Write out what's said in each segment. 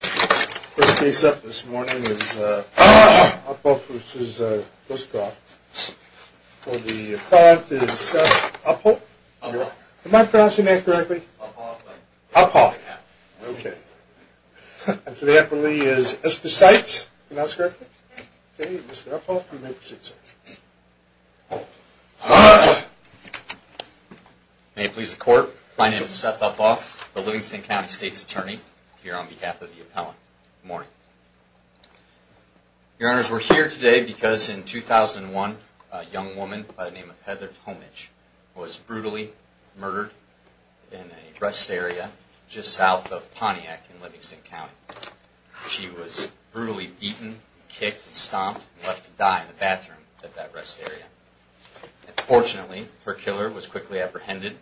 The first case up this morning is Uphoff v. Grosskopf. For the client is Seth Uphoff. Am I pronouncing that correctly? Uphoff. Uphoff. Okay. And for the appellee is Esther Seitz. Am I pronouncing that correctly? Yes. May it please the court, my name is Seth Uphoff, the Livingston County State's Attorney, here on behalf of the appellant. Good morning. Your honors, we're here today because in 2001, a young woman by the name of Heather Tomich was brutally murdered in a rest area just south of Pontiac in Livingston County. She was brutally beaten, kicked, stomped, and left to die in the bathroom at that rest area. Fortunately, her killer was quickly apprehended,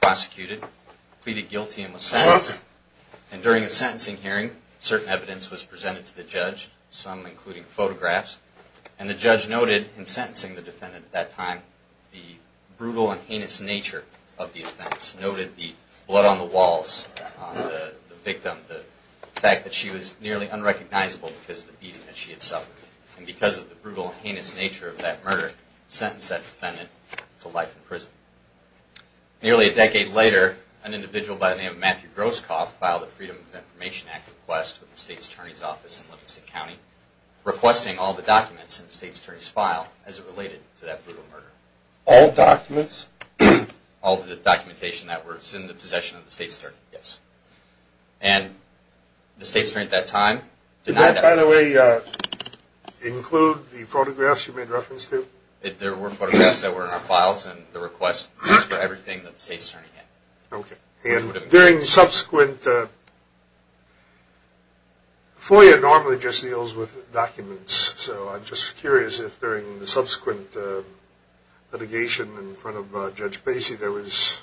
prosecuted, pleaded guilty, and was sentenced. And during the sentencing hearing, certain evidence was presented to the judge, some including photographs. And the judge noted in sentencing the defendant at that time, the brutal and heinous nature of the offense. Noted the blood on the walls, the victim, the fact that she was nearly unrecognizable because of the beating that she had suffered. And because of the brutal and heinous nature of that murder, sentenced that defendant to life in prison. Nearly a decade later, an individual by the name of Matthew Groskopf filed a Freedom of Information Act request with the State's Attorney's Office in Livingston County, requesting all the documents in the State's Attorney's file as it related to that brutal murder. All documents? All the documentation that was in the possession of the State's Attorney, yes. And the State's Attorney at that time denied that. Did that, by the way, include the photographs you made reference to? There were photographs that were in our files, and the request was for everything that the State's Attorney had. Okay. And during subsequent... there was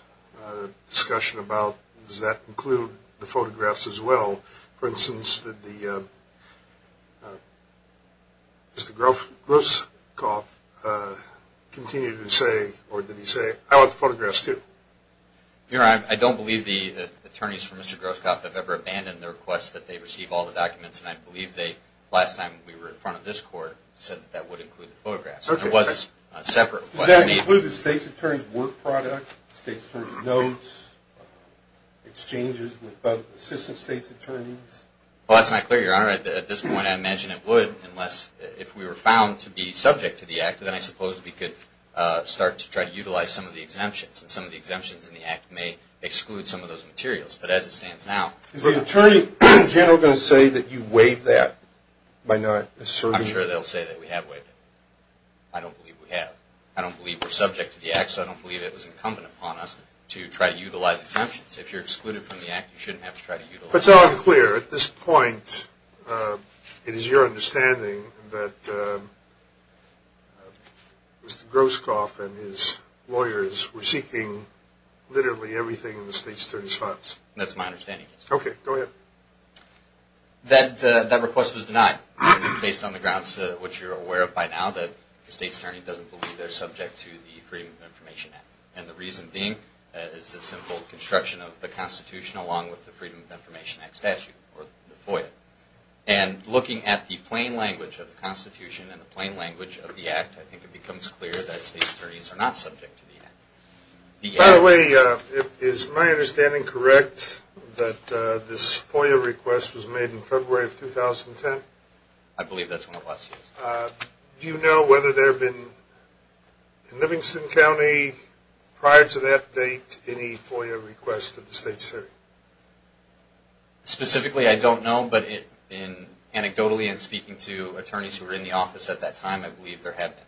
discussion about, does that include the photographs as well? For instance, did Mr. Groskopf continue to say, or did he say, I want the photographs too? I don't believe the attorneys for Mr. Groskopf have ever abandoned the request that they receive all the documents, and I believe they, last time we were in front of this court, said that that would include the photographs. Does that include the State's Attorney's work product, State's Attorney's notes, exchanges with both Assistant State's Attorneys? Well, that's not clear, Your Honor. At this point, I imagine it would, unless if we were found to be subject to the act, then I suppose we could start to try to utilize some of the exemptions, and some of the exemptions in the act may exclude some of those materials. But as it stands now... Is the Attorney General going to say that you waived that by not asserting... I don't believe we have. I don't believe we're subject to the act, so I don't believe it was incumbent upon us to try to utilize exemptions. If you're excluded from the act, you shouldn't have to try to utilize... But it's unclear. At this point, it is your understanding that Mr. Groskopf and his lawyers were seeking literally everything in the State's Attorney's funds. That's my understanding, yes. Okay, go ahead. That request was denied, based on the grounds, which you're aware of by now, that the State's Attorney doesn't believe they're subject to the Freedom of Information Act. And the reason being is the simple construction of the Constitution along with the Freedom of Information Act statute, or FOIA. And looking at the plain language of the Constitution and the plain language of the act, I think it becomes clear that State's Attorneys are not subject to the act. By the way, is my understanding correct that this FOIA request was made in February of 2010? I believe that's when it was, yes. Do you know whether there have been, in Livingston County, prior to that date, any FOIA requests to the State's Attorney? Specifically, I don't know, but anecdotally in speaking to attorneys who were in the office at that time, I believe there have been,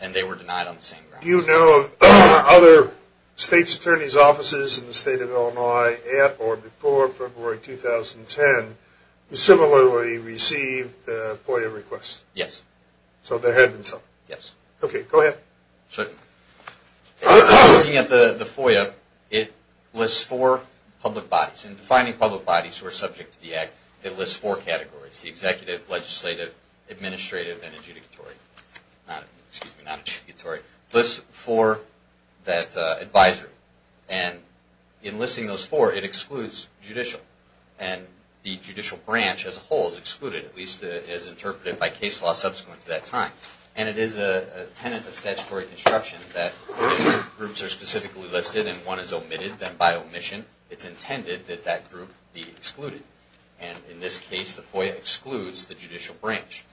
and they were denied on the same grounds. Do you know of other State's Attorney's offices in the State of Illinois at or before February 2010, who similarly received FOIA requests? Yes. So there have been some? Yes. Okay, go ahead. Looking at the FOIA, it lists four public bodies. In defining public bodies who are subject to the act, it lists four categories. It's the executive, legislative, administrative, and adjudicatory. Excuse me, not adjudicatory. It lists four that advisory. And in listing those four, it excludes judicial. And the judicial branch as a whole is excluded, at least as interpreted by case law subsequent to that time. And it is a tenet of statutory construction that groups are specifically listed and one is omitted. Then by omission, it's intended that that group be excluded. And in this case, the FOIA excludes the judicial branch.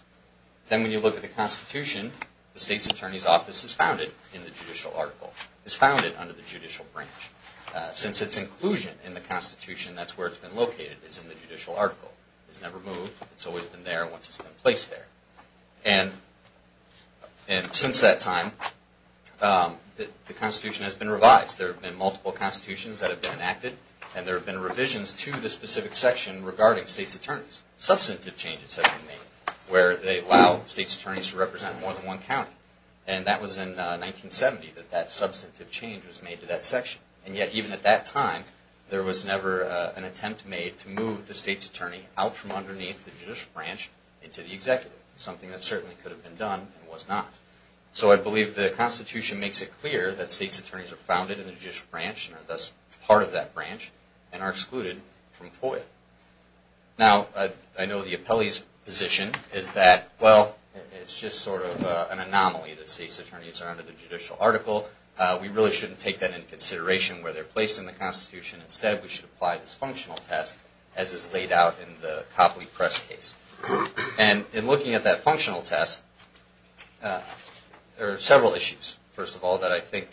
Then when you look at the Constitution, the State's Attorney's Office is founded in the judicial article. It's founded under the judicial branch. Since its inclusion in the Constitution, that's where it's been located, is in the judicial article. It's never moved. It's always been there once it's been placed there. And since that time, the Constitution has been revised. There have been multiple constitutions that have been enacted. And there have been revisions to the specific section regarding states' attorneys. Substantive changes have been made where they allow states' attorneys to represent more than one county. And that was in 1970 that that substantive change was made to that section. And yet, even at that time, there was never an attempt made to move the states' attorney out from underneath the judicial branch into the executive. Something that certainly could have been done and was not. So I believe the Constitution makes it clear that states' attorneys are founded in the judicial branch, and are thus part of that branch, and are excluded from FOIA. Now, I know the appellee's position is that, well, it's just sort of an anomaly that states' attorneys are under the judicial article. We really shouldn't take that into consideration where they're placed in the Constitution. Instead, we should apply this functional test as is laid out in the Copley Press case. And in looking at that functional test, there are several issues, first of all, that I think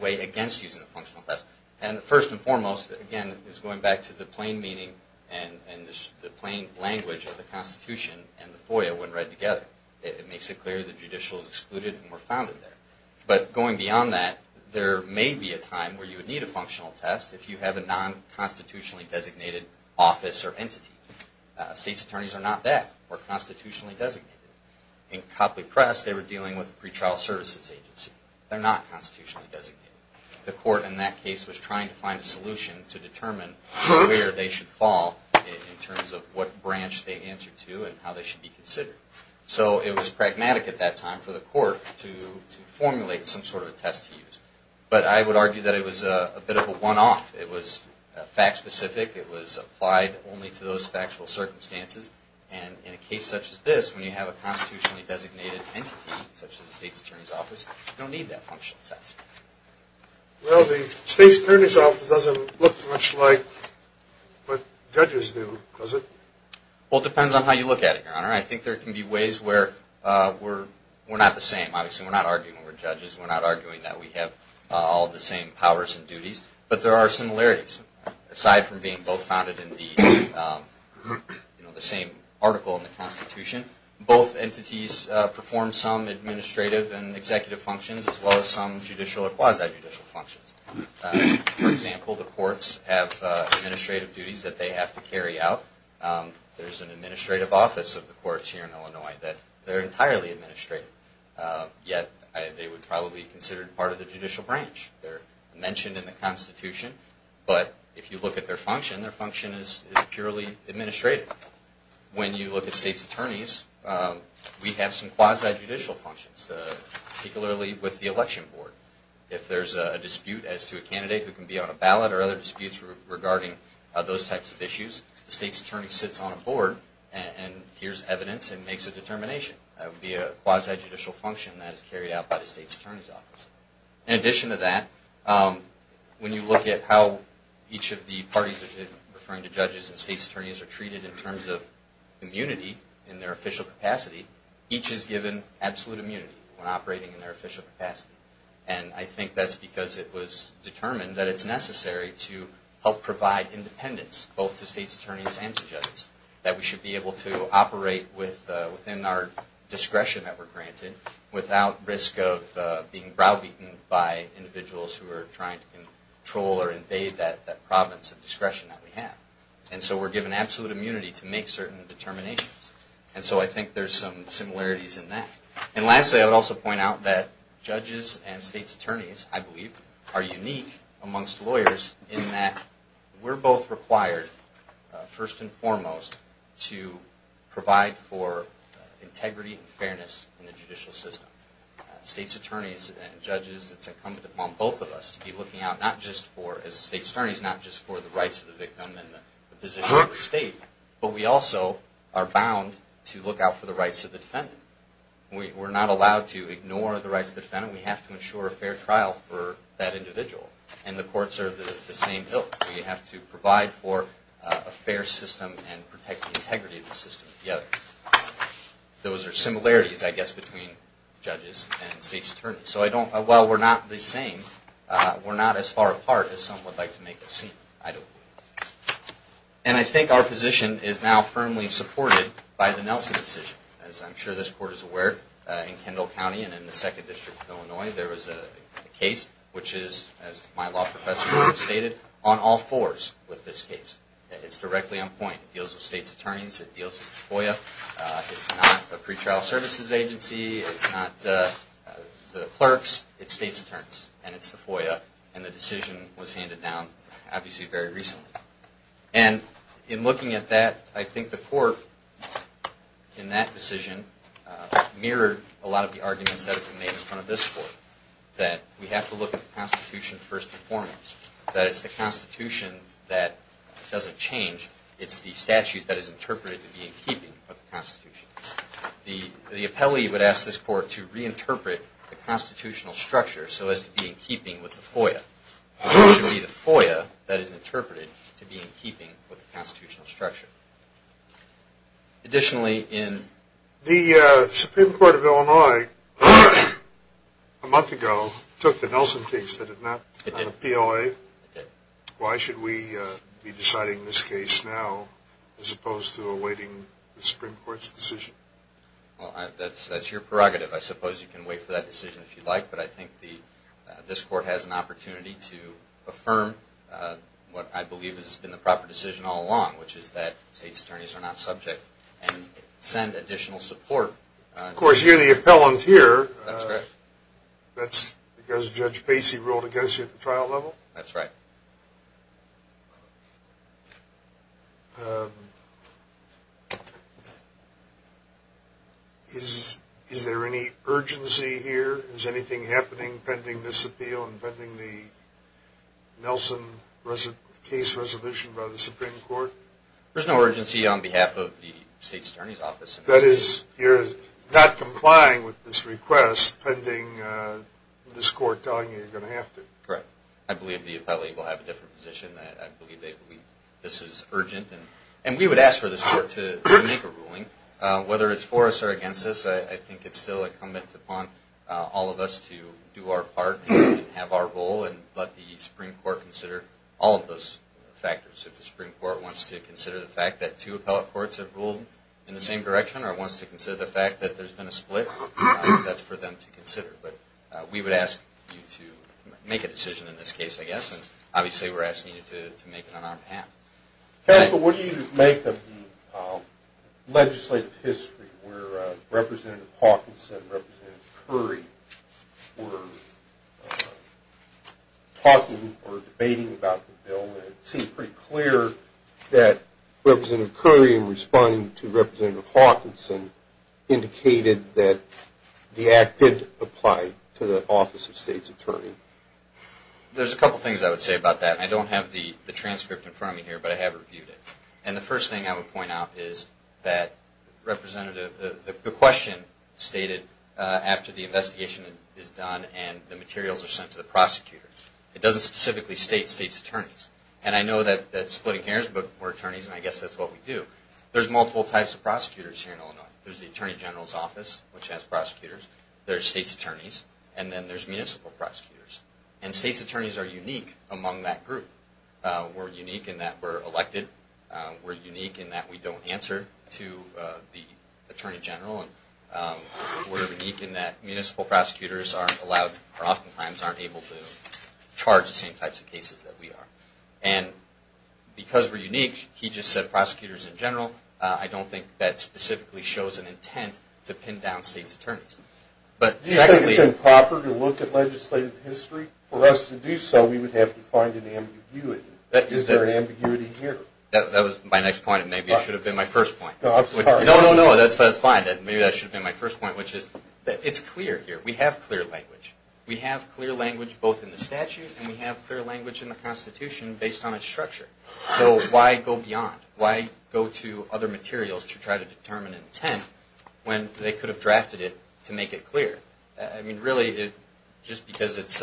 weigh against using the functional test. And first and foremost, again, is going back to the plain meaning and the plain language of the Constitution and the FOIA when read together. It makes it clear the judicial is excluded and we're founded there. But going beyond that, there may be a time where you would need a functional test if you have a non-constitutionally designated office or entity. States' attorneys are not that. They're constitutionally designated. In Copley Press, they were dealing with a pretrial services agency. They're not constitutionally designated. The court in that case was trying to find a solution to determine where they should fall in terms of what branch they answer to and how they should be considered. So it was pragmatic at that time for the court to formulate some sort of a test to use. But I would argue that it was a bit of a one-off. It was fact-specific. It was applied only to those factual circumstances. And in a case such as this, when you have a constitutionally designated entity, such as a states' attorney's office, you don't need that functional test. Well, the states' attorney's office doesn't look much like what judges do, does it? Well, it depends on how you look at it, Your Honor. I think there can be ways where we're not the same. Obviously, we're not arguing we're judges. We're not arguing that we have all the same powers and duties. But there are similarities. Aside from being both founded in the same article in the Constitution, both entities perform some administrative and executive functions as well as some judicial or quasi-judicial functions. For example, the courts have administrative duties that they have to carry out. There's an administrative office of the courts here in Illinois that they're entirely administrative. Yet they would probably be considered part of the judicial branch. They're mentioned in the Constitution, but if you look at their function, their function is purely administrative. When you look at states' attorneys, we have some quasi-judicial functions, particularly with the election board. If there's a dispute as to a candidate who can be on a ballot or other disputes regarding those types of issues, the states' attorney sits on a board and hears evidence and makes a determination. That would be a quasi-judicial function that is carried out by the states' attorney's office. In addition to that, when you look at how each of the parties, referring to judges and states' attorneys, are treated in terms of immunity in their official capacity, each is given absolute immunity when operating in their official capacity. And I think that's because it was determined that it's necessary to help provide independence both to states' attorneys and to judges. That we should be able to operate within our discretion that we're granted without risk of being browbeaten by individuals who are trying to control or invade that province of discretion that we have. And so we're given absolute immunity to make certain determinations. And so I think there's some similarities in that. And lastly, I would also point out that judges and states' attorneys, I believe, are unique amongst lawyers in that we're both required, first and foremost, to provide for integrity and fairness in the judicial system. States' attorneys and judges, it's incumbent upon both of us to be looking out, as states' attorneys, not just for the rights of the victim and the position of the state, but we also are bound to look out for the rights of the defendant. We're not allowed to ignore the rights of the defendant. We have to ensure a fair trial for that individual. And the courts are the same ilk. We have to provide for a fair system and protect the integrity of the system. Those are similarities, I guess, between judges and states' attorneys. So while we're not the same, we're not as far apart as some would like to make it seem. And I think our position is now firmly supported by the Nelson decision. As I'm sure this Court is aware, in Kendall County and in the 2nd District of Illinois, there was a case, which is, as my law professor stated, on all fours with this case. It's directly on point. It deals with states' attorneys. It deals with FOIA. It's not a pretrial services agency. It's not the clerks. It's states' attorneys. And it's the FOIA. And the decision was handed down. Obviously, very recently. And in looking at that, I think the Court, in that decision, mirrored a lot of the arguments that have been made in front of this Court. That we have to look at the Constitution first and foremost. That it's the Constitution that doesn't change. It's the statute that is interpreted to be in keeping with the Constitution. The appellee would ask this Court to reinterpret the constitutional structure so as to be in keeping with the FOIA. It should be the FOIA that is interpreted to be in keeping with the constitutional structure. Additionally, in... The Supreme Court of Illinois, a month ago, took the Nelson case. Did it not? It did. On a PLA. It did. Why should we be deciding this case now, as opposed to awaiting the Supreme Court's decision? Well, that's your prerogative. I suppose you can wait for that decision if you'd like. But I think this Court has an opportunity to affirm what I believe has been the proper decision all along. Which is that state's attorneys are not subject. And send additional support. Of course, you're the appellant here. That's correct. That's because Judge Pacey ruled against you at the trial level? That's right. Is there any urgency here? Is anything happening pending this appeal and pending the Nelson case resolution by the Supreme Court? There's no urgency on behalf of the state's attorney's office. That is, you're not complying with this request pending this Court telling you you're going to have to. Correct. I believe the appellate will have a different position. I believe this is urgent. And we would ask for this Court to make a ruling. Whether it's for us or against us, I think it's still incumbent upon all of us to do our part and have our role and let the Supreme Court consider all of those factors. If the Supreme Court wants to consider the fact that two appellate courts have ruled in the same direction or wants to consider the fact that there's been a split, that's for them to consider. But we would ask you to make a decision in this case, I guess. Obviously, we're asking you to make it on our behalf. Counsel, what do you make of the legislative history where Representative Hawkinson and Representative Curry were talking or debating about the bill? It seemed pretty clear that Representative Curry, in responding to Representative Hawkinson, indicated that the act did apply to the office of state's attorney. There's a couple things I would say about that. I don't have the transcript in front of me here, but I have reviewed it. And the first thing I would point out is that the question stated after the investigation is done and the materials are sent to the prosecutors, it doesn't specifically state state's attorneys. And I know that splitting hairs were attorneys, and I guess that's what we do. There's multiple types of prosecutors here in Illinois. There's the Attorney General's Office, which has prosecutors. There's state's attorneys. And then there's municipal prosecutors. And state's attorneys are unique among that group. We're unique in that we're elected. We're unique in that we don't answer to the Attorney General. And we're unique in that municipal prosecutors are allowed or oftentimes aren't able to charge the same types of cases that we are. And because we're unique, he just said prosecutors in general. I don't think that specifically shows an intent to pin down state's attorneys. Do you think it's improper to look at legislative history? For us to do so, we would have to find an ambiguity. Is there an ambiguity here? That was my next point, and maybe it should have been my first point. No, no, no, that's fine. Maybe that should have been my first point, which is that it's clear here. We have clear language. We have clear language both in the statute, and we have clear language in the Constitution based on its structure. So why go beyond? Why go to other materials to try to determine intent when they could have drafted it to make it clear? I mean, really, just because it's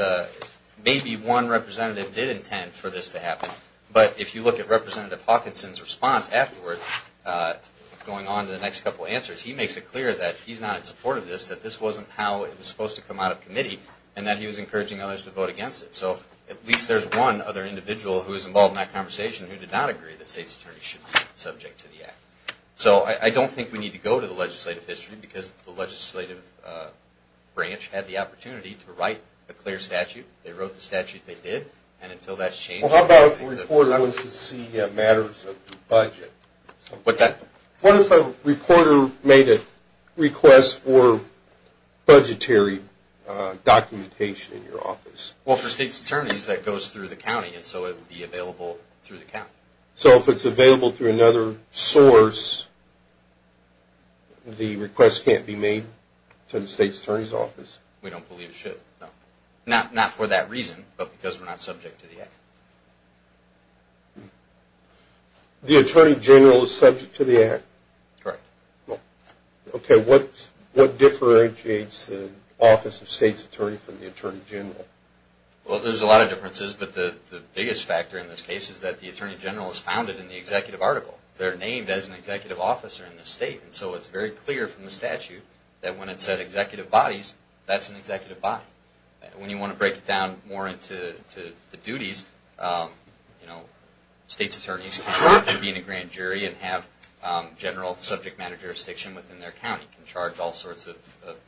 maybe one representative did intend for this to happen, but if you look at Representative Hawkinson's response afterwards, going on to the next couple of answers, he makes it clear that he's not in support of this, that this wasn't how it was supposed to come out of committee, and that he was encouraging others to vote against it. So at least there's one other individual who was involved in that conversation who did not agree that states' attorneys should be subject to the Act. So I don't think we need to go to the legislative history because the legislative branch had the opportunity to write a clear statute. They wrote the statute they did, and until that's changed... Well, how about if a reporter wants to see matters of the budget? What's that? What if a reporter made a request for budgetary documentation in your office? Well, for states' attorneys, that goes through the county, and so it would be available through the county. So if it's available through another source, the request can't be made to the states' attorney's office? We don't believe it should, no. Not for that reason, but because we're not subject to the Act. The attorney general is subject to the Act? Correct. Okay, what differentiates the office of states' attorney from the attorney general? Well, there's a lot of differences, but the biggest factor in this case is that the attorney general is founded in the executive article. They're named as an executive officer in the state, and so it's very clear from the statute that when it said executive bodies, that's an executive body. When you want to break it down more into the duties, states' attorneys can be in a grand jury and have general subject matter jurisdiction within their county, can charge all sorts of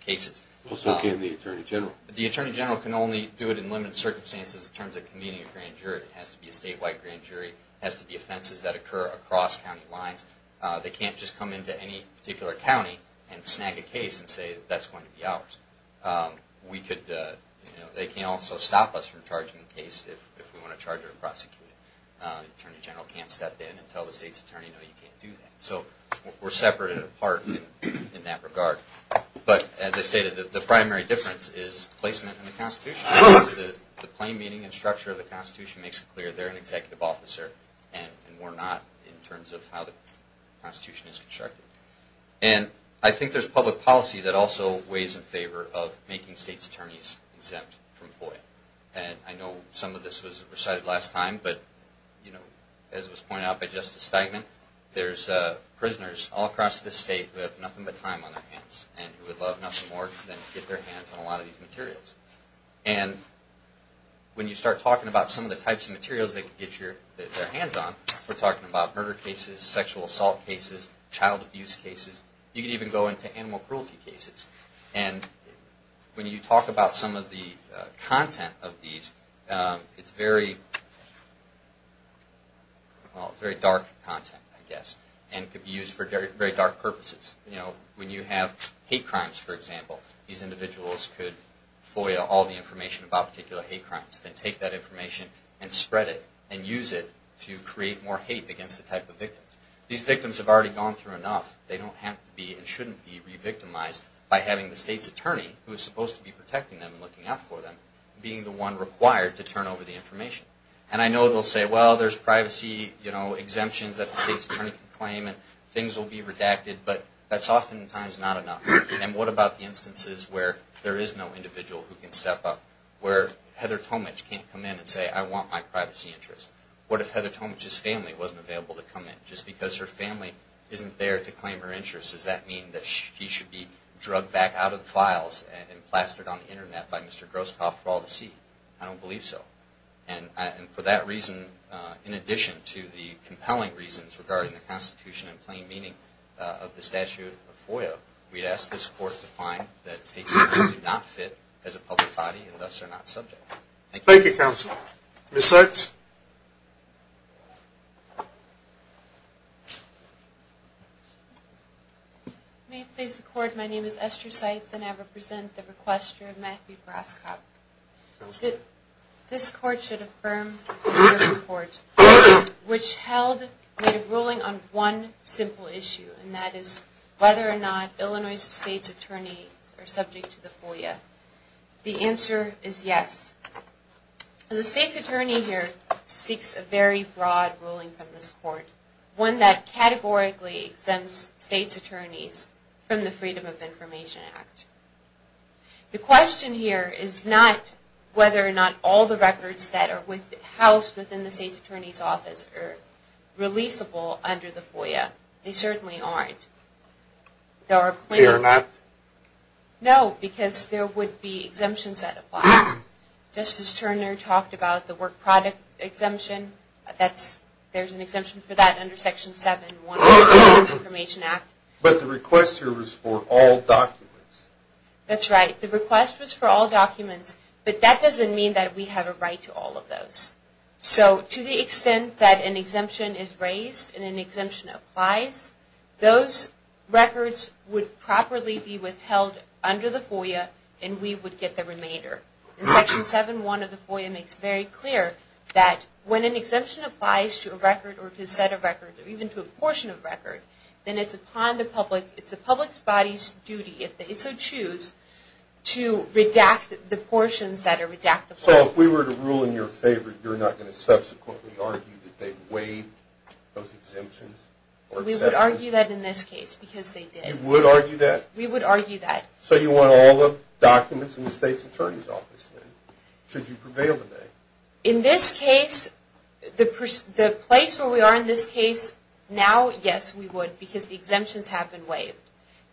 cases. What's okay in the attorney general? The attorney general can only do it in limited circumstances in terms of convening a grand jury. It has to be a statewide grand jury. It has to be offenses that occur across county lines. They can't just come into any particular county and snag a case and say, that's going to be ours. They can also stop us from charging a case if we want to charge it or prosecute it. The attorney general can't step in and tell the states' attorney, no, you can't do that. So we're separated apart in that regard. As I stated, the primary difference is placement in the Constitution. The plain meaning and structure of the Constitution makes it clear they're an executive officer and we're not in terms of how the Constitution is constructed. I think there's public policy that also weighs in favor of making states' attorneys exempt from FOIA. I know some of this was recited last time, but as was pointed out by Justice Steigman, there's prisoners all across this state who have nothing but time on their hands and who would love nothing more than to get their hands on a lot of these materials. When you start talking about some of the types of materials they can get their hands on, we're talking about murder cases, sexual assault cases, child abuse cases. You could even go into animal cruelty cases. When you talk about some of the content of these, it's very dark content, I guess, and could be used for very dark purposes. When you have hate crimes, for example, these individuals could FOIA all the information about particular hate crimes and take that information and spread it and use it to create more hate against the type of victims. These victims have already gone through enough. They don't have to be and shouldn't be re-victimized by having the state's attorney, who is supposed to be protecting them and looking out for them, being the one required to turn over the information. I know they'll say, well, there's privacy exemptions that the state's attorney can claim and things will be redacted, but that's oftentimes not enough. What about the instances where there is no individual who can step up, where Heather Tomich can't come in and say, I want my privacy interest? What if Heather Tomich's family wasn't available to come in just because her family isn't there to claim her interest? Does that mean that she should be drugged back out of the files and plastered on the Internet by Mr. Groskopf for all to see? I don't believe so. And for that reason, in addition to the compelling reasons regarding the Constitution and plain meaning of the statute of FOIA, we'd ask this Court to find that state's attorneys do not fit as a public body and thus are not subject. Thank you. Thank you, Counsel. Ms. Seitz. May it please the Court, my name is Esther Seitz and I represent the requester, Matthew Groskopf. This Court should affirm the Supreme Court, which held a ruling on one simple issue, and that is whether or not Illinois' state's attorneys are subject to the FOIA. The answer is yes. The state's attorney here seeks a very broad ruling from this Court, one that categorically exempts state's attorneys from the Freedom of Information Act. The question here is not whether or not all the records that are housed within the state's attorney's office are releasable under the FOIA. They certainly aren't. They are not? No, because there would be exemptions that apply. Justice Turner talked about the work product exemption. There's an exemption for that under Section 7-1 of the Freedom of Information Act. But the request here was for all documents. That's right. The request was for all documents, but that doesn't mean that we have a right to all of those. So to the extent that an exemption is raised and an exemption applies, those records would properly be withheld under the FOIA, and we would get the remainder. And Section 7-1 of the FOIA makes very clear that when an exemption applies to a record or to a set of records, or even to a portion of a record, then it's the public's body's duty, if they so choose, to redact the portions that are redactable. So if we were to rule in your favor, you're not going to subsequently argue that they waived those exemptions? We would argue that in this case, because they did. You would argue that? We would argue that. So you want all the documents in the state's attorney's office, then, should you prevail today? In this case, the place where we are in this case, now, yes, we would, because the exemptions have been waived.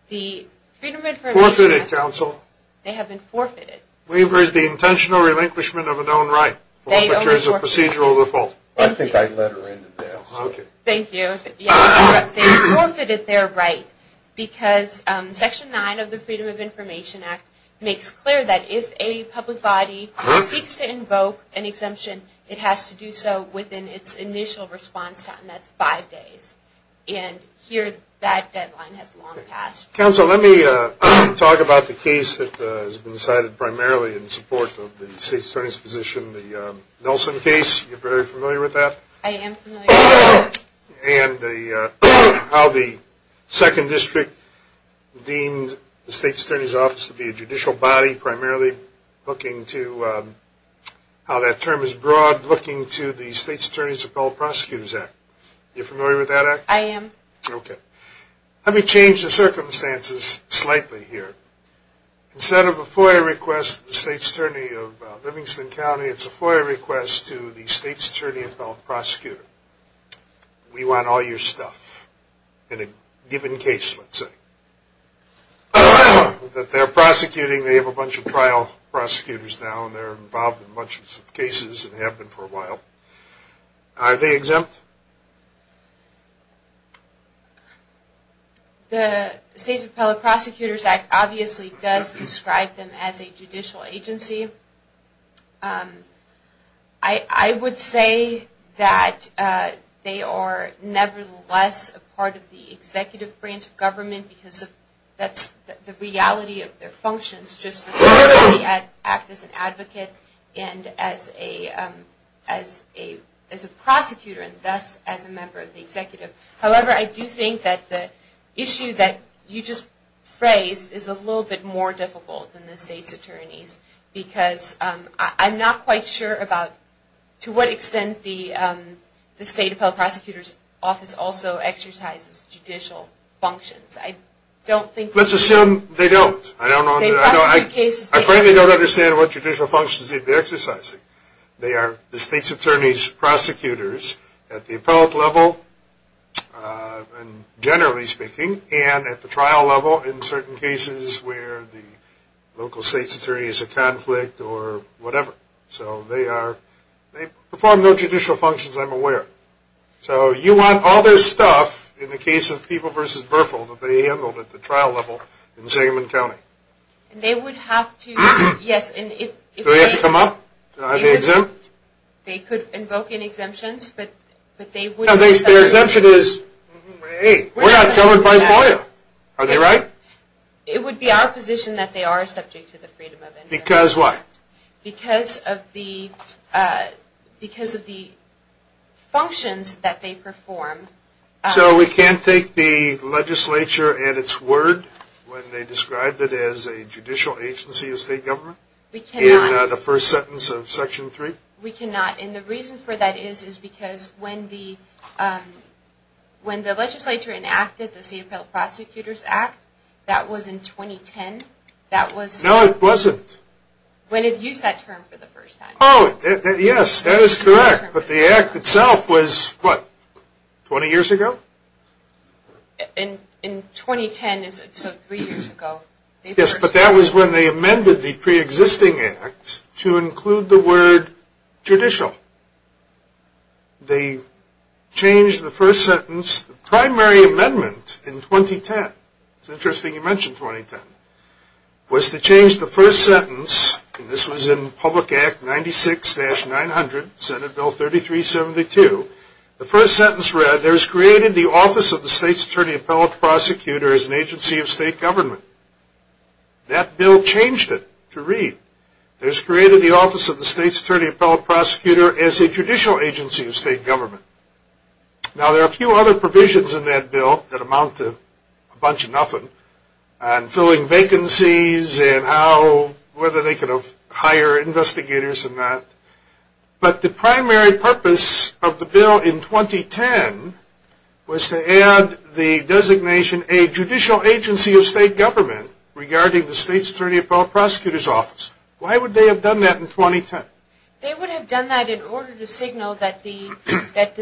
The Freedom of Information Act... Forfeited, counsel. They have been forfeited. Waiver is the intentional relinquishment of a known right. Forfeiture is a procedural default. I think I let her into this. Thank you. They forfeited their right, because Section 9 of the Freedom of Information Act makes clear that if a public body seeks to invoke an exemption, it has to do so within its initial response time. That's five days. And here, that deadline has long passed. Counsel, let me talk about the case that has been cited primarily in support of the state's attorney's position, the Nelson case. You're very familiar with that? I am familiar with that. And how the Second District deemed the state's attorney's office to be a judicial body, primarily looking to how that term is broad, looking to the State's Attorney's Appellate Prosecutors Act. Are you familiar with that act? I am. Okay. Let me change the circumstances slightly here. Instead of a FOIA request to the state's attorney of Livingston County, it's a FOIA request to the State's Attorney Appellate Prosecutor. We want all your stuff in a given case, let's say. That they're prosecuting, they have a bunch of trial prosecutors now, and they're involved in a bunch of cases and have been for a while. Are they exempt? The State's Appellate Prosecutors Act obviously does describe them as a judicial agency. I would say that they are nevertheless a part of the executive branch of government because that's the reality of their functions, just as an advocate and as a prosecutor. Thus, as a member of the executive. However, I do think that the issue that you just phrased is a little bit more difficult than the state's attorneys. Because I'm not quite sure about to what extent the State Appellate Prosecutors Office also exercises judicial functions. Let's assume they don't. I frankly don't understand what judicial functions they'd be exercising. They are the state's attorney's prosecutors at the appellate level, generally speaking, and at the trial level in certain cases where the local state's attorney is a conflict or whatever. So they perform no judicial functions, I'm aware. So you want all their stuff in the case of People v. Berfel that they handled at the trial level in Sigmund County. They would have to, yes. Do they have to come up? Are they exempt? They could invoke any exemptions, but they wouldn't. Their exemption is, hey, we're not covered by FOIA. Are they right? It would be our position that they are subject to the freedom of inquiry. Because what? Because of the functions that they perform. So we can't take the legislature at its word when they described it as a judicial agency of state government? We cannot. In the first sentence of Section 3? We cannot. And the reason for that is because when the legislature enacted the State Appellate Prosecutors Act, that was in 2010. No, it wasn't. When it used that term for the first time. Oh, yes, that is correct. But the act itself was, what, 20 years ago? In 2010, so three years ago. Yes, but that was when they amended the preexisting act to include the word judicial. They changed the first sentence, the primary amendment in 2010, it's interesting you mention 2010, was to change the first sentence, and this was in Public Act 96-900, Senate Bill 3372. The first sentence read, there is created the office of the State's Attorney Appellate Prosecutor as an agency of state government. That bill changed it to read, there is created the office of the State's Attorney Appellate Prosecutor as a judicial agency of state government. Now, there are a few other provisions in that bill that amount to a bunch of nothing. And filling vacancies and how, whether they could have hired investigators and that. But the primary purpose of the bill in 2010 was to add the designation a judicial agency of state government regarding the State's Attorney Appellate Prosecutor's Office. Why would they have done that in 2010? They would have done that in order to signal that the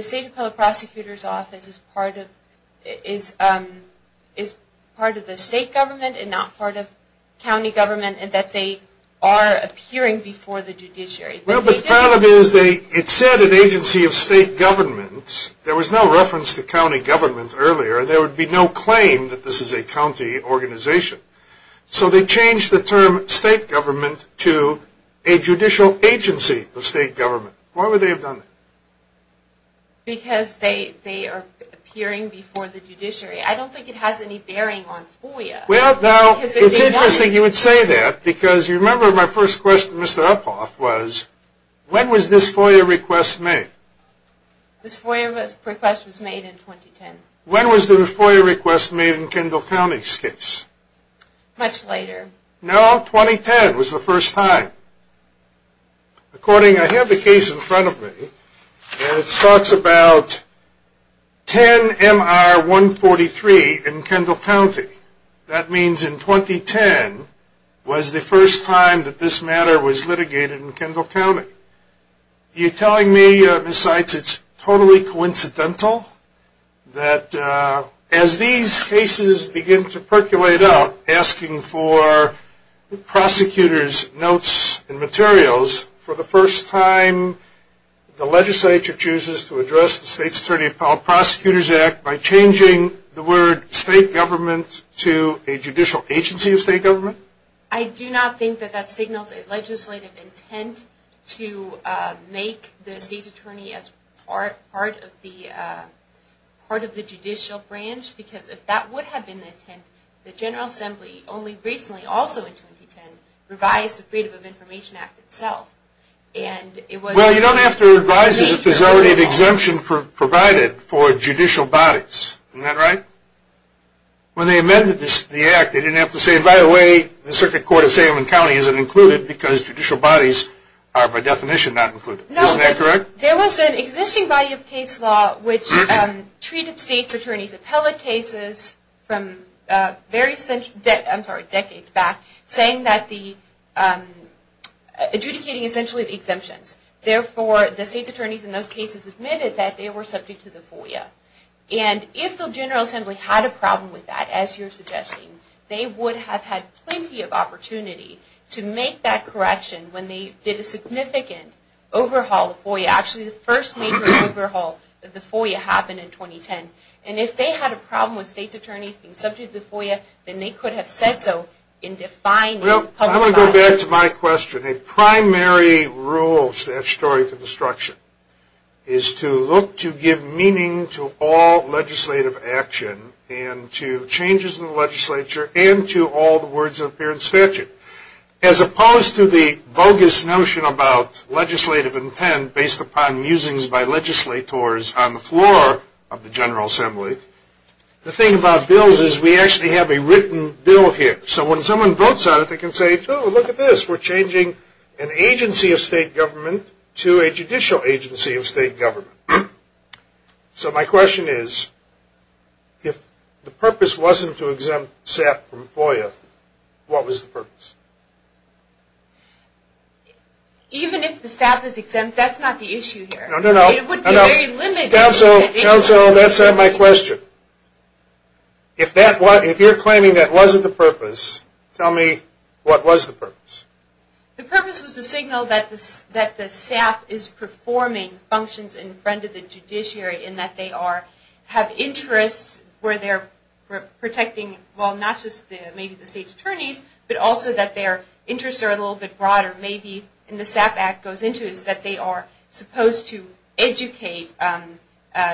State's Attorney Appellate Prosecutor's Office is part of the state government and not part of county government and that they are appearing before the judiciary. Well, the problem is it said an agency of state government. There was no reference to county government earlier. There would be no claim that this is a county organization. So they changed the term state government to a judicial agency of state government. Why would they have done that? Because they are appearing before the judiciary. I don't think it has any bearing on FOIA. Well, now, it's interesting you would say that because you remember my first question to Mr. Uphoff was, when was this FOIA request made? This FOIA request was made in 2010. When was the FOIA request made in Kendall County's case? Much later. No, 2010 was the first time. According, I have the case in front of me, and it talks about 10-MR-143 in Kendall County. That means in 2010 was the first time that this matter was litigated in Kendall County. You're telling me, Ms. Seitz, it's totally coincidental that as these cases begin to percolate out, asking for prosecutors' notes and materials for the first time, the legislature chooses to address the State's Attorney Appellate Prosecutors Act by changing the word state government to a judicial agency of state government? I do not think that that signals a legislative intent to make the State's Attorney as part of the judicial branch because if that would have been the intent, the General Assembly only recently, also in 2010, revised the Freedom of Information Act itself. Well, you don't have to revise it if there's already an exemption provided for judicial bodies. Isn't that right? When they amended the act, they didn't have to say, by the way, the Circuit Court of Salem County isn't included because judicial bodies are by definition not included. Isn't that correct? No, there was an existing body of case law which treated State's Attorney's appellate cases from decades back saying that the, adjudicating essentially the exemptions. Therefore, the State's Attorneys in those cases admitted that they were subject to the FOIA. And if the General Assembly had a problem with that, as you're suggesting, they would have had plenty of opportunity to make that correction when they did a significant overhaul of FOIA. Actually, the first major overhaul of the FOIA happened in 2010. And if they had a problem with State's Attorneys being subject to the FOIA, then they could have said so in defining public liability. Well, I want to go back to my question. A primary rule of statutory construction is to look to give meaning to all legislative action and to changes in the legislature and to all the words that appear in statute. As opposed to the bogus notion about legislative intent based upon musings by legislators on the floor of the General Assembly, the thing about bills is we actually have a written bill here. So when someone votes on it, they can say, oh, look at this. We're changing an agency of state government to a judicial agency of state government. So my question is, if the purpose wasn't to exempt SAP from FOIA, what was the purpose? Even if the SAP is exempt, that's not the issue here. No, no, no. It would be very limited. Council, that's not my question. If you're claiming that wasn't the purpose, tell me what was the purpose? The purpose was to signal that the SAP is performing functions in front of the judiciary and that they have interests where they're protecting, well, not just maybe the State's Attorneys, but also that their interests are a little bit broader. Maybe, and the SAP Act goes into this, that they are supposed to educate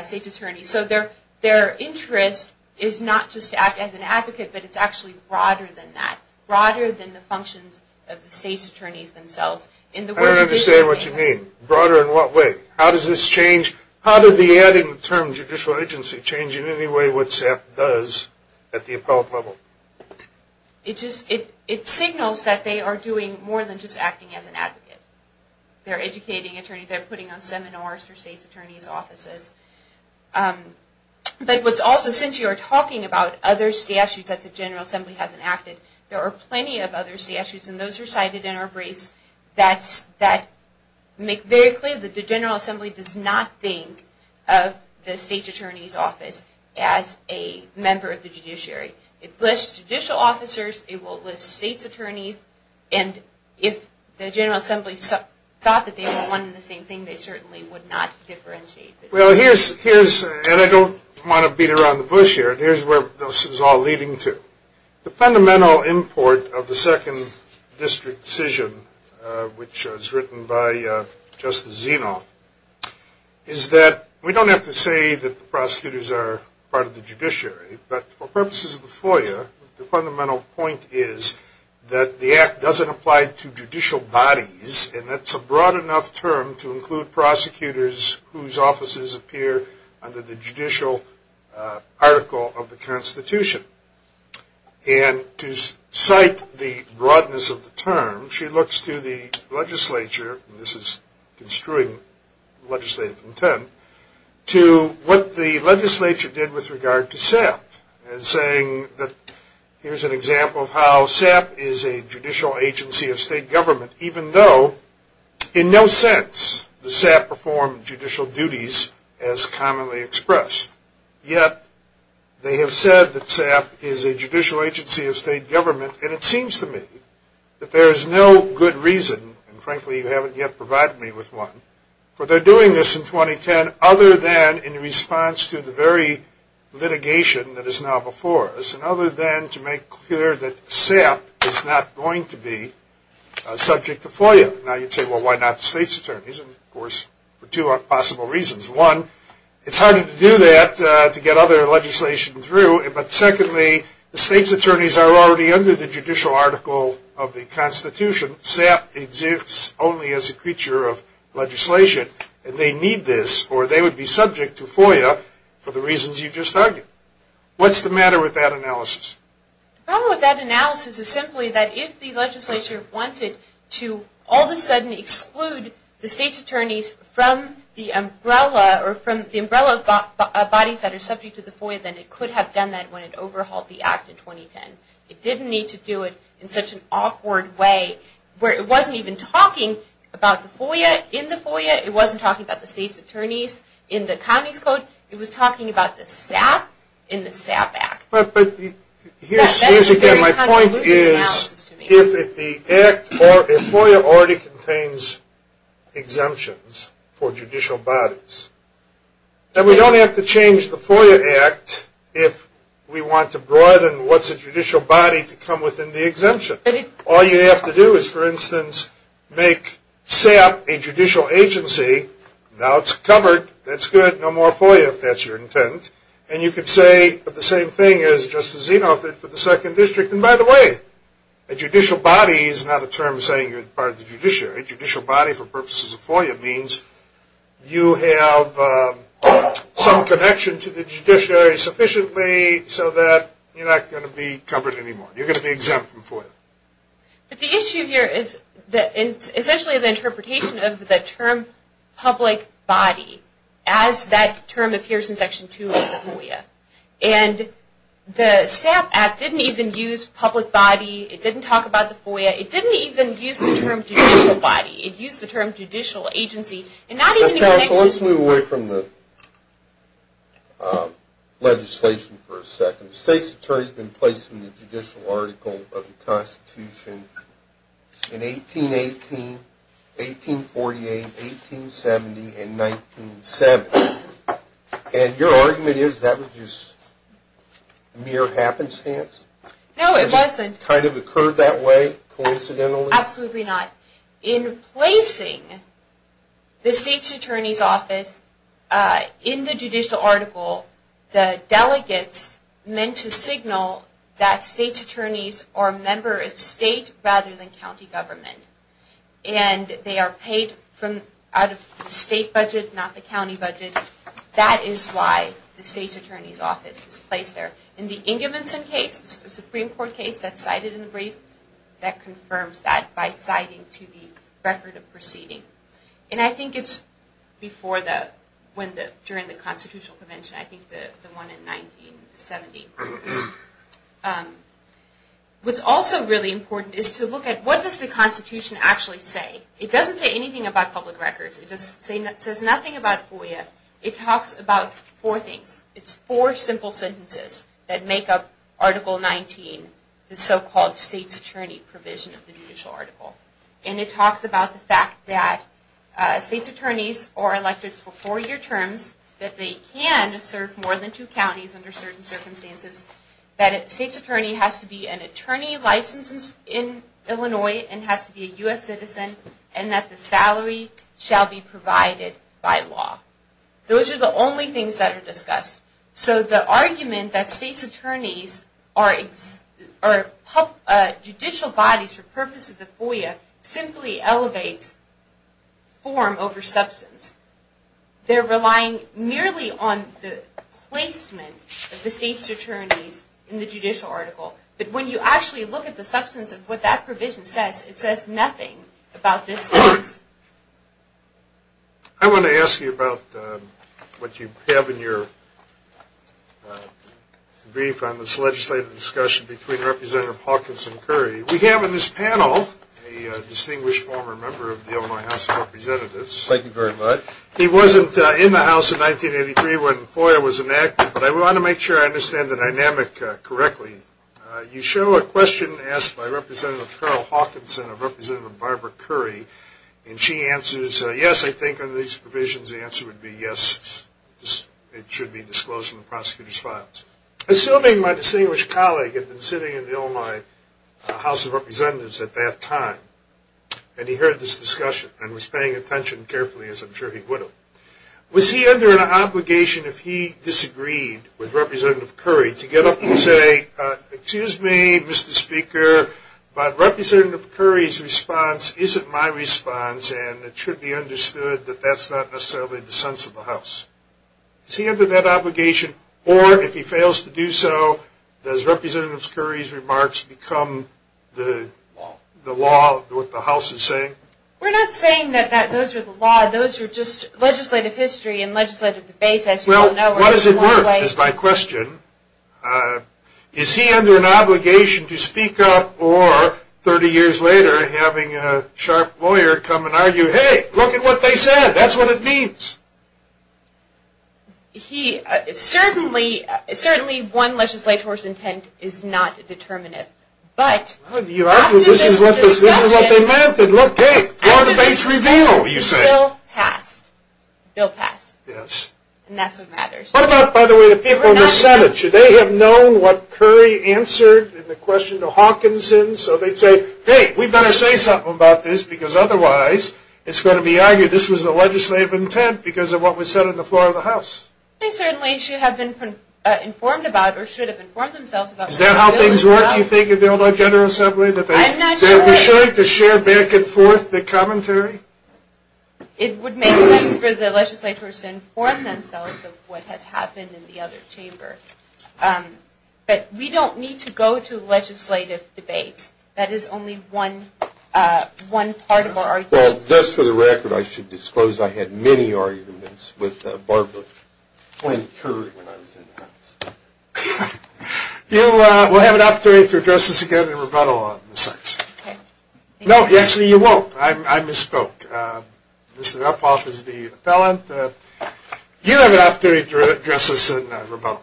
State's Attorneys. So their interest is not just to act as an advocate, but it's actually broader than that, broader than the functions of the State's Attorneys themselves. I don't understand what you mean. Broader in what way? How does this change? How did the adding the term judicial agency change in any way what SAP does at the appellate level? They're educating attorneys. They're putting on seminars for State's Attorney's offices. But what's also, since you're talking about other statutes that the General Assembly hasn't acted, there are plenty of other statutes, and those are cited in our briefs, that make very clear that the General Assembly does not think of the State's Attorney's office as a member of the judiciary. It lists judicial officers. It will list State's Attorneys. And if the General Assembly thought that they were one and the same thing, they certainly would not differentiate. Well, here's, and I don't want to beat around the bush here, but here's where this is all leading to. The fundamental import of the second district decision, which was written by Justice Zeno, is that we don't have to say that the prosecutors are part of the judiciary, but for purposes of the FOIA, the fundamental point is that the act doesn't apply to judicial bodies, and that's a broad enough term to include prosecutors whose offices appear under the judicial article of the Constitution. And to cite the broadness of the term, she looks to the legislature, and this is construing legislative intent, to what the legislature did with regard to SAP, and saying that here's an example of how SAP is a judicial agency of state government, even though in no sense does SAP perform judicial duties as commonly expressed. Yet they have said that SAP is a judicial agency of state government, and it seems to me that there is no good reason, and frankly you haven't yet provided me with one, for their doing this in 2010 other than in response to the very litigation that is now before us, and other than to make clear that SAP is not going to be subject to FOIA. Now you'd say, well, why not the state's attorneys, and of course for two possible reasons. One, it's harder to do that to get other legislation through, but secondly, the state's attorneys are already under the judicial article of the Constitution. SAP exists only as a creature of legislation, and they need this, or they would be subject to FOIA for the reasons you just argued. What's the matter with that analysis? The problem with that analysis is simply that if the legislature wanted to all of a sudden exclude the state's attorneys from the umbrella, or from the umbrella bodies that are subject to the FOIA, then it could have done that when it overhauled the act in 2010. It didn't need to do it in such an awkward way where it wasn't even talking about the FOIA in the FOIA, it wasn't talking about the state's attorneys in the county's code, it was talking about the SAP in the SAP Act. Here's again, my point is, if the FOIA already contains exemptions for judicial bodies, then we don't have to change the FOIA Act if we want to broaden what's a judicial body to come within the exemption. All you have to do is, for instance, make SAP a judicial agency. Now it's covered, that's good, no more FOIA if that's your intent. And you could say the same thing as Justice Zinoff did for the second district. And by the way, a judicial body is not a term saying you're part of the judiciary. A judicial body for purposes of FOIA means you have some connection to the judiciary sufficiently so that you're not going to be covered anymore. You're going to be exempt from FOIA. But the issue here is essentially the interpretation of the term public body, as that term appears in Section 2 of the FOIA. And the SAP Act didn't even use public body, it didn't talk about the FOIA, it didn't even use the term judicial body, it used the term judicial agency, and not even the connection. So let's move away from the legislation for a second. The state's attorney has been placed in the judicial article of the Constitution in 1818, 1848, 1870, and 1970. And your argument is that was just mere happenstance? No, it wasn't. It just kind of occurred that way coincidentally? Absolutely not. In placing the state's attorney's office in the judicial article, the delegates meant to signal that state's attorneys are a member of state rather than county government. And they are paid out of the state budget, not the county budget. That is why the state's attorney's office is placed there. In the Ingevinson case, the Supreme Court case that's cited in the brief, that confirms that by citing to the record of proceeding. And I think it's during the Constitutional Convention, I think the one in 1970. What's also really important is to look at what does the Constitution actually say? It doesn't say anything about public records. It says nothing about FOIA. It talks about four things. That make up Article 19, the so-called state's attorney provision of the judicial article. And it talks about the fact that state's attorneys are elected for four-year terms, that they can serve more than two counties under certain circumstances, that a state's attorney has to be an attorney licensed in Illinois and has to be a U.S. citizen, and that the salary shall be provided by law. Those are the only things that are discussed. So the argument that state's attorneys are judicial bodies for purposes of FOIA simply elevates form over substance. They're relying merely on the placement of the state's attorneys in the judicial article. But when you actually look at the substance of what that provision says, it says nothing about this case. I want to ask you about what you have in your brief on this legislative discussion between Representative Hawkins and Curry. We have in this panel a distinguished former member of the Illinois House of Representatives. Thank you very much. He wasn't in the House in 1983 when FOIA was enacted, but I want to make sure I understand the dynamic correctly. You show a question asked by Representative Carl Hawkins and Representative Barbara Curry, and she answers, yes, I think under these provisions the answer would be yes, it should be disclosed in the prosecutor's files. Assuming my distinguished colleague had been sitting in the Illinois House of Representatives at that time and he heard this discussion and was paying attention carefully, as I'm sure he would have, was he under an obligation if he disagreed with Representative Curry to get up and say, excuse me, Mr. Speaker, but Representative Curry's response isn't my response and it should be understood that that's not necessarily the sense of the House. Is he under that obligation, or if he fails to do so, does Representative Curry's remarks become the law, what the House is saying? We're not saying that those are the law. Those are just legislative history and legislative debates, as you all know. What is it worth is my question. Is he under an obligation to speak up or, 30 years later, having a sharp lawyer come and argue, hey, look at what they said, that's what it means. Certainly one legislator's intent is not determinative, but after this discussion, look, hey, law debates reveal, you say. Bill passed. Bill passed. Yes. And that's what matters. What about, by the way, the people in the Senate? Should they have known what Curry answered in the question to Hawkinson? So they'd say, hey, we'd better say something about this because otherwise it's going to be argued this was a legislative intent because of what was said on the floor of the House. They certainly should have been informed about or should have informed themselves about Is that how things work, you think, at the Illinois General Assembly? I'm not sure. That they should share back and forth the commentary? It would make sense for the legislators to inform themselves of what has happened in the other chamber. But we don't need to go to legislative debates. That is only one part of our argument. Well, just for the record, I should disclose I had many arguments with Barbara Flynn Curry when I was in the House. We'll have an opportunity to address this again in rebuttal. No, actually you won't. I misspoke. Mr. Uphoff is the appellant. You'll have an opportunity to address this in rebuttal.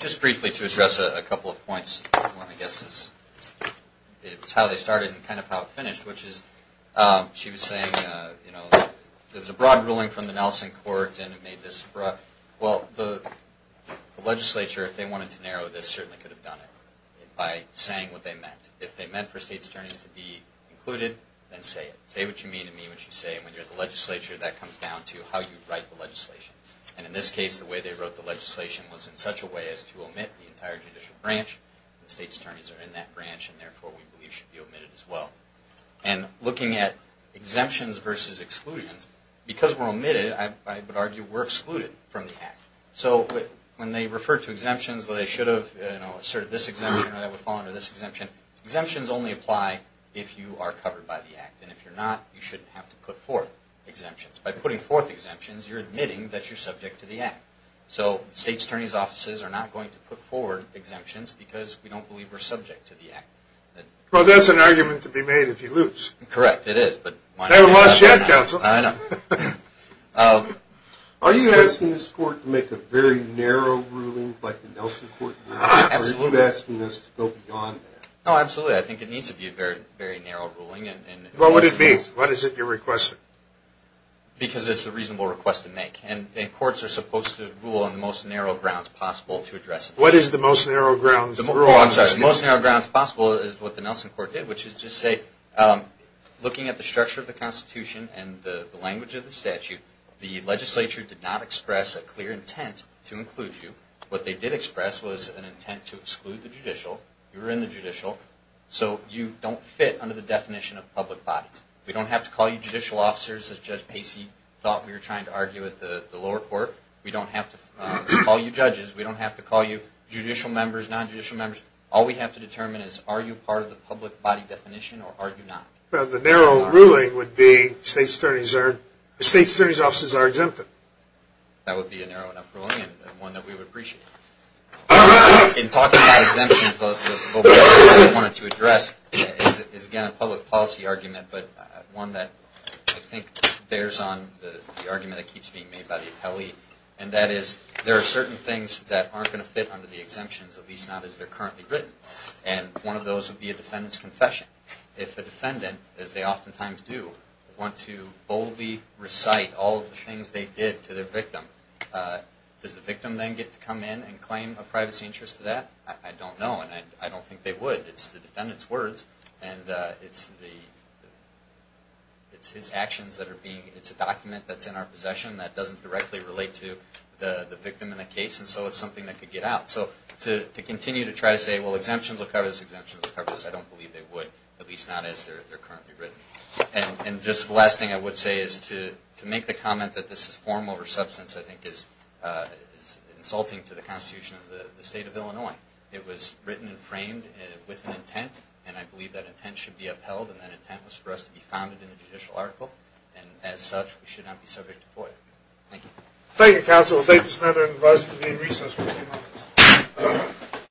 Just briefly to address a couple of points. One, I guess, is how they started and kind of how it finished, which is she was saying, you know, there was a broad ruling from the Nelson Court and it made this broad. Well, the legislature, if they wanted to narrow this, certainly could have done it by saying what they meant. If they meant for state's attorneys to be included, then say it. Say what you mean and mean what you say. And when you're at the legislature, that comes down to how you write the legislation. And in this case, the way they wrote the legislation was in such a way as to omit the entire judicial branch. The state's attorneys are in that branch and therefore we believe should be omitted as well. And looking at exemptions versus exclusions, because we're omitted, I would argue we're excluded from the act. So when they refer to exemptions, well, they should have asserted this exemption or that would fall under this exemption. Exemptions only apply if you are covered by the act. And if you're not, you shouldn't have to put forth exemptions. By putting forth exemptions, you're admitting that you're subject to the act. So state's attorney's offices are not going to put forward exemptions because we don't believe we're subject to the act. Well, that's an argument to be made if you lose. Correct, it is. You haven't lost yet, counsel. I know. Are you asking this court to make a very narrow ruling like the Nelson Court? Absolutely. Or are you asking this to go beyond that? Oh, absolutely. I think it needs to be a very narrow ruling. Well, what does it mean? What is it you're requesting? Because it's a reasonable request to make. What is the most narrow grounds to rule on? The most narrow grounds possible is what the Nelson Court did, which is just say, looking at the structure of the Constitution and the language of the statute, the legislature did not express a clear intent to include you. What they did express was an intent to exclude the judicial. You were in the judicial. So you don't fit under the definition of public bodies. We don't have to call you judicial officers, as Judge Pacey thought we were trying to argue at the lower court. We don't have to call you judges. We don't have to call you judicial members, non-judicial members. All we have to determine is are you part of the public body definition or are you not? Well, the narrow ruling would be state's attorneys are exempted. That would be a narrow enough ruling and one that we would appreciate. In talking about exemptions, what we wanted to address is, again, a public policy argument, but one that I think bears on the argument that keeps being made by the appellee, and that is there are certain things that aren't going to fit under the exemptions, at least not as they're currently written, and one of those would be a defendant's confession. If a defendant, as they oftentimes do, want to boldly recite all of the things they did to their victim, does the victim then get to come in and claim a privacy interest to that? I don't know, and I don't think they would. It's the defendant's words, and it's his actions that are being, it's a document that's in our possession that doesn't directly relate to the victim in the case, and so it's something that could get out. So to continue to try to say, well, exemptions will cover this, exemptions will cover this, I don't believe they would, at least not as they're currently written. And just the last thing I would say is to make the comment that this is form over substance, I think is insulting to the Constitution of the State of Illinois. It was written and framed with an intent, and I believe that intent should be upheld, and that intent was for us to be founded in the judicial article. And as such, we should not be subject to FOIA. Thank you. Thank you, Counsel. I'll take this matter and advise it to be in recess for a few minutes.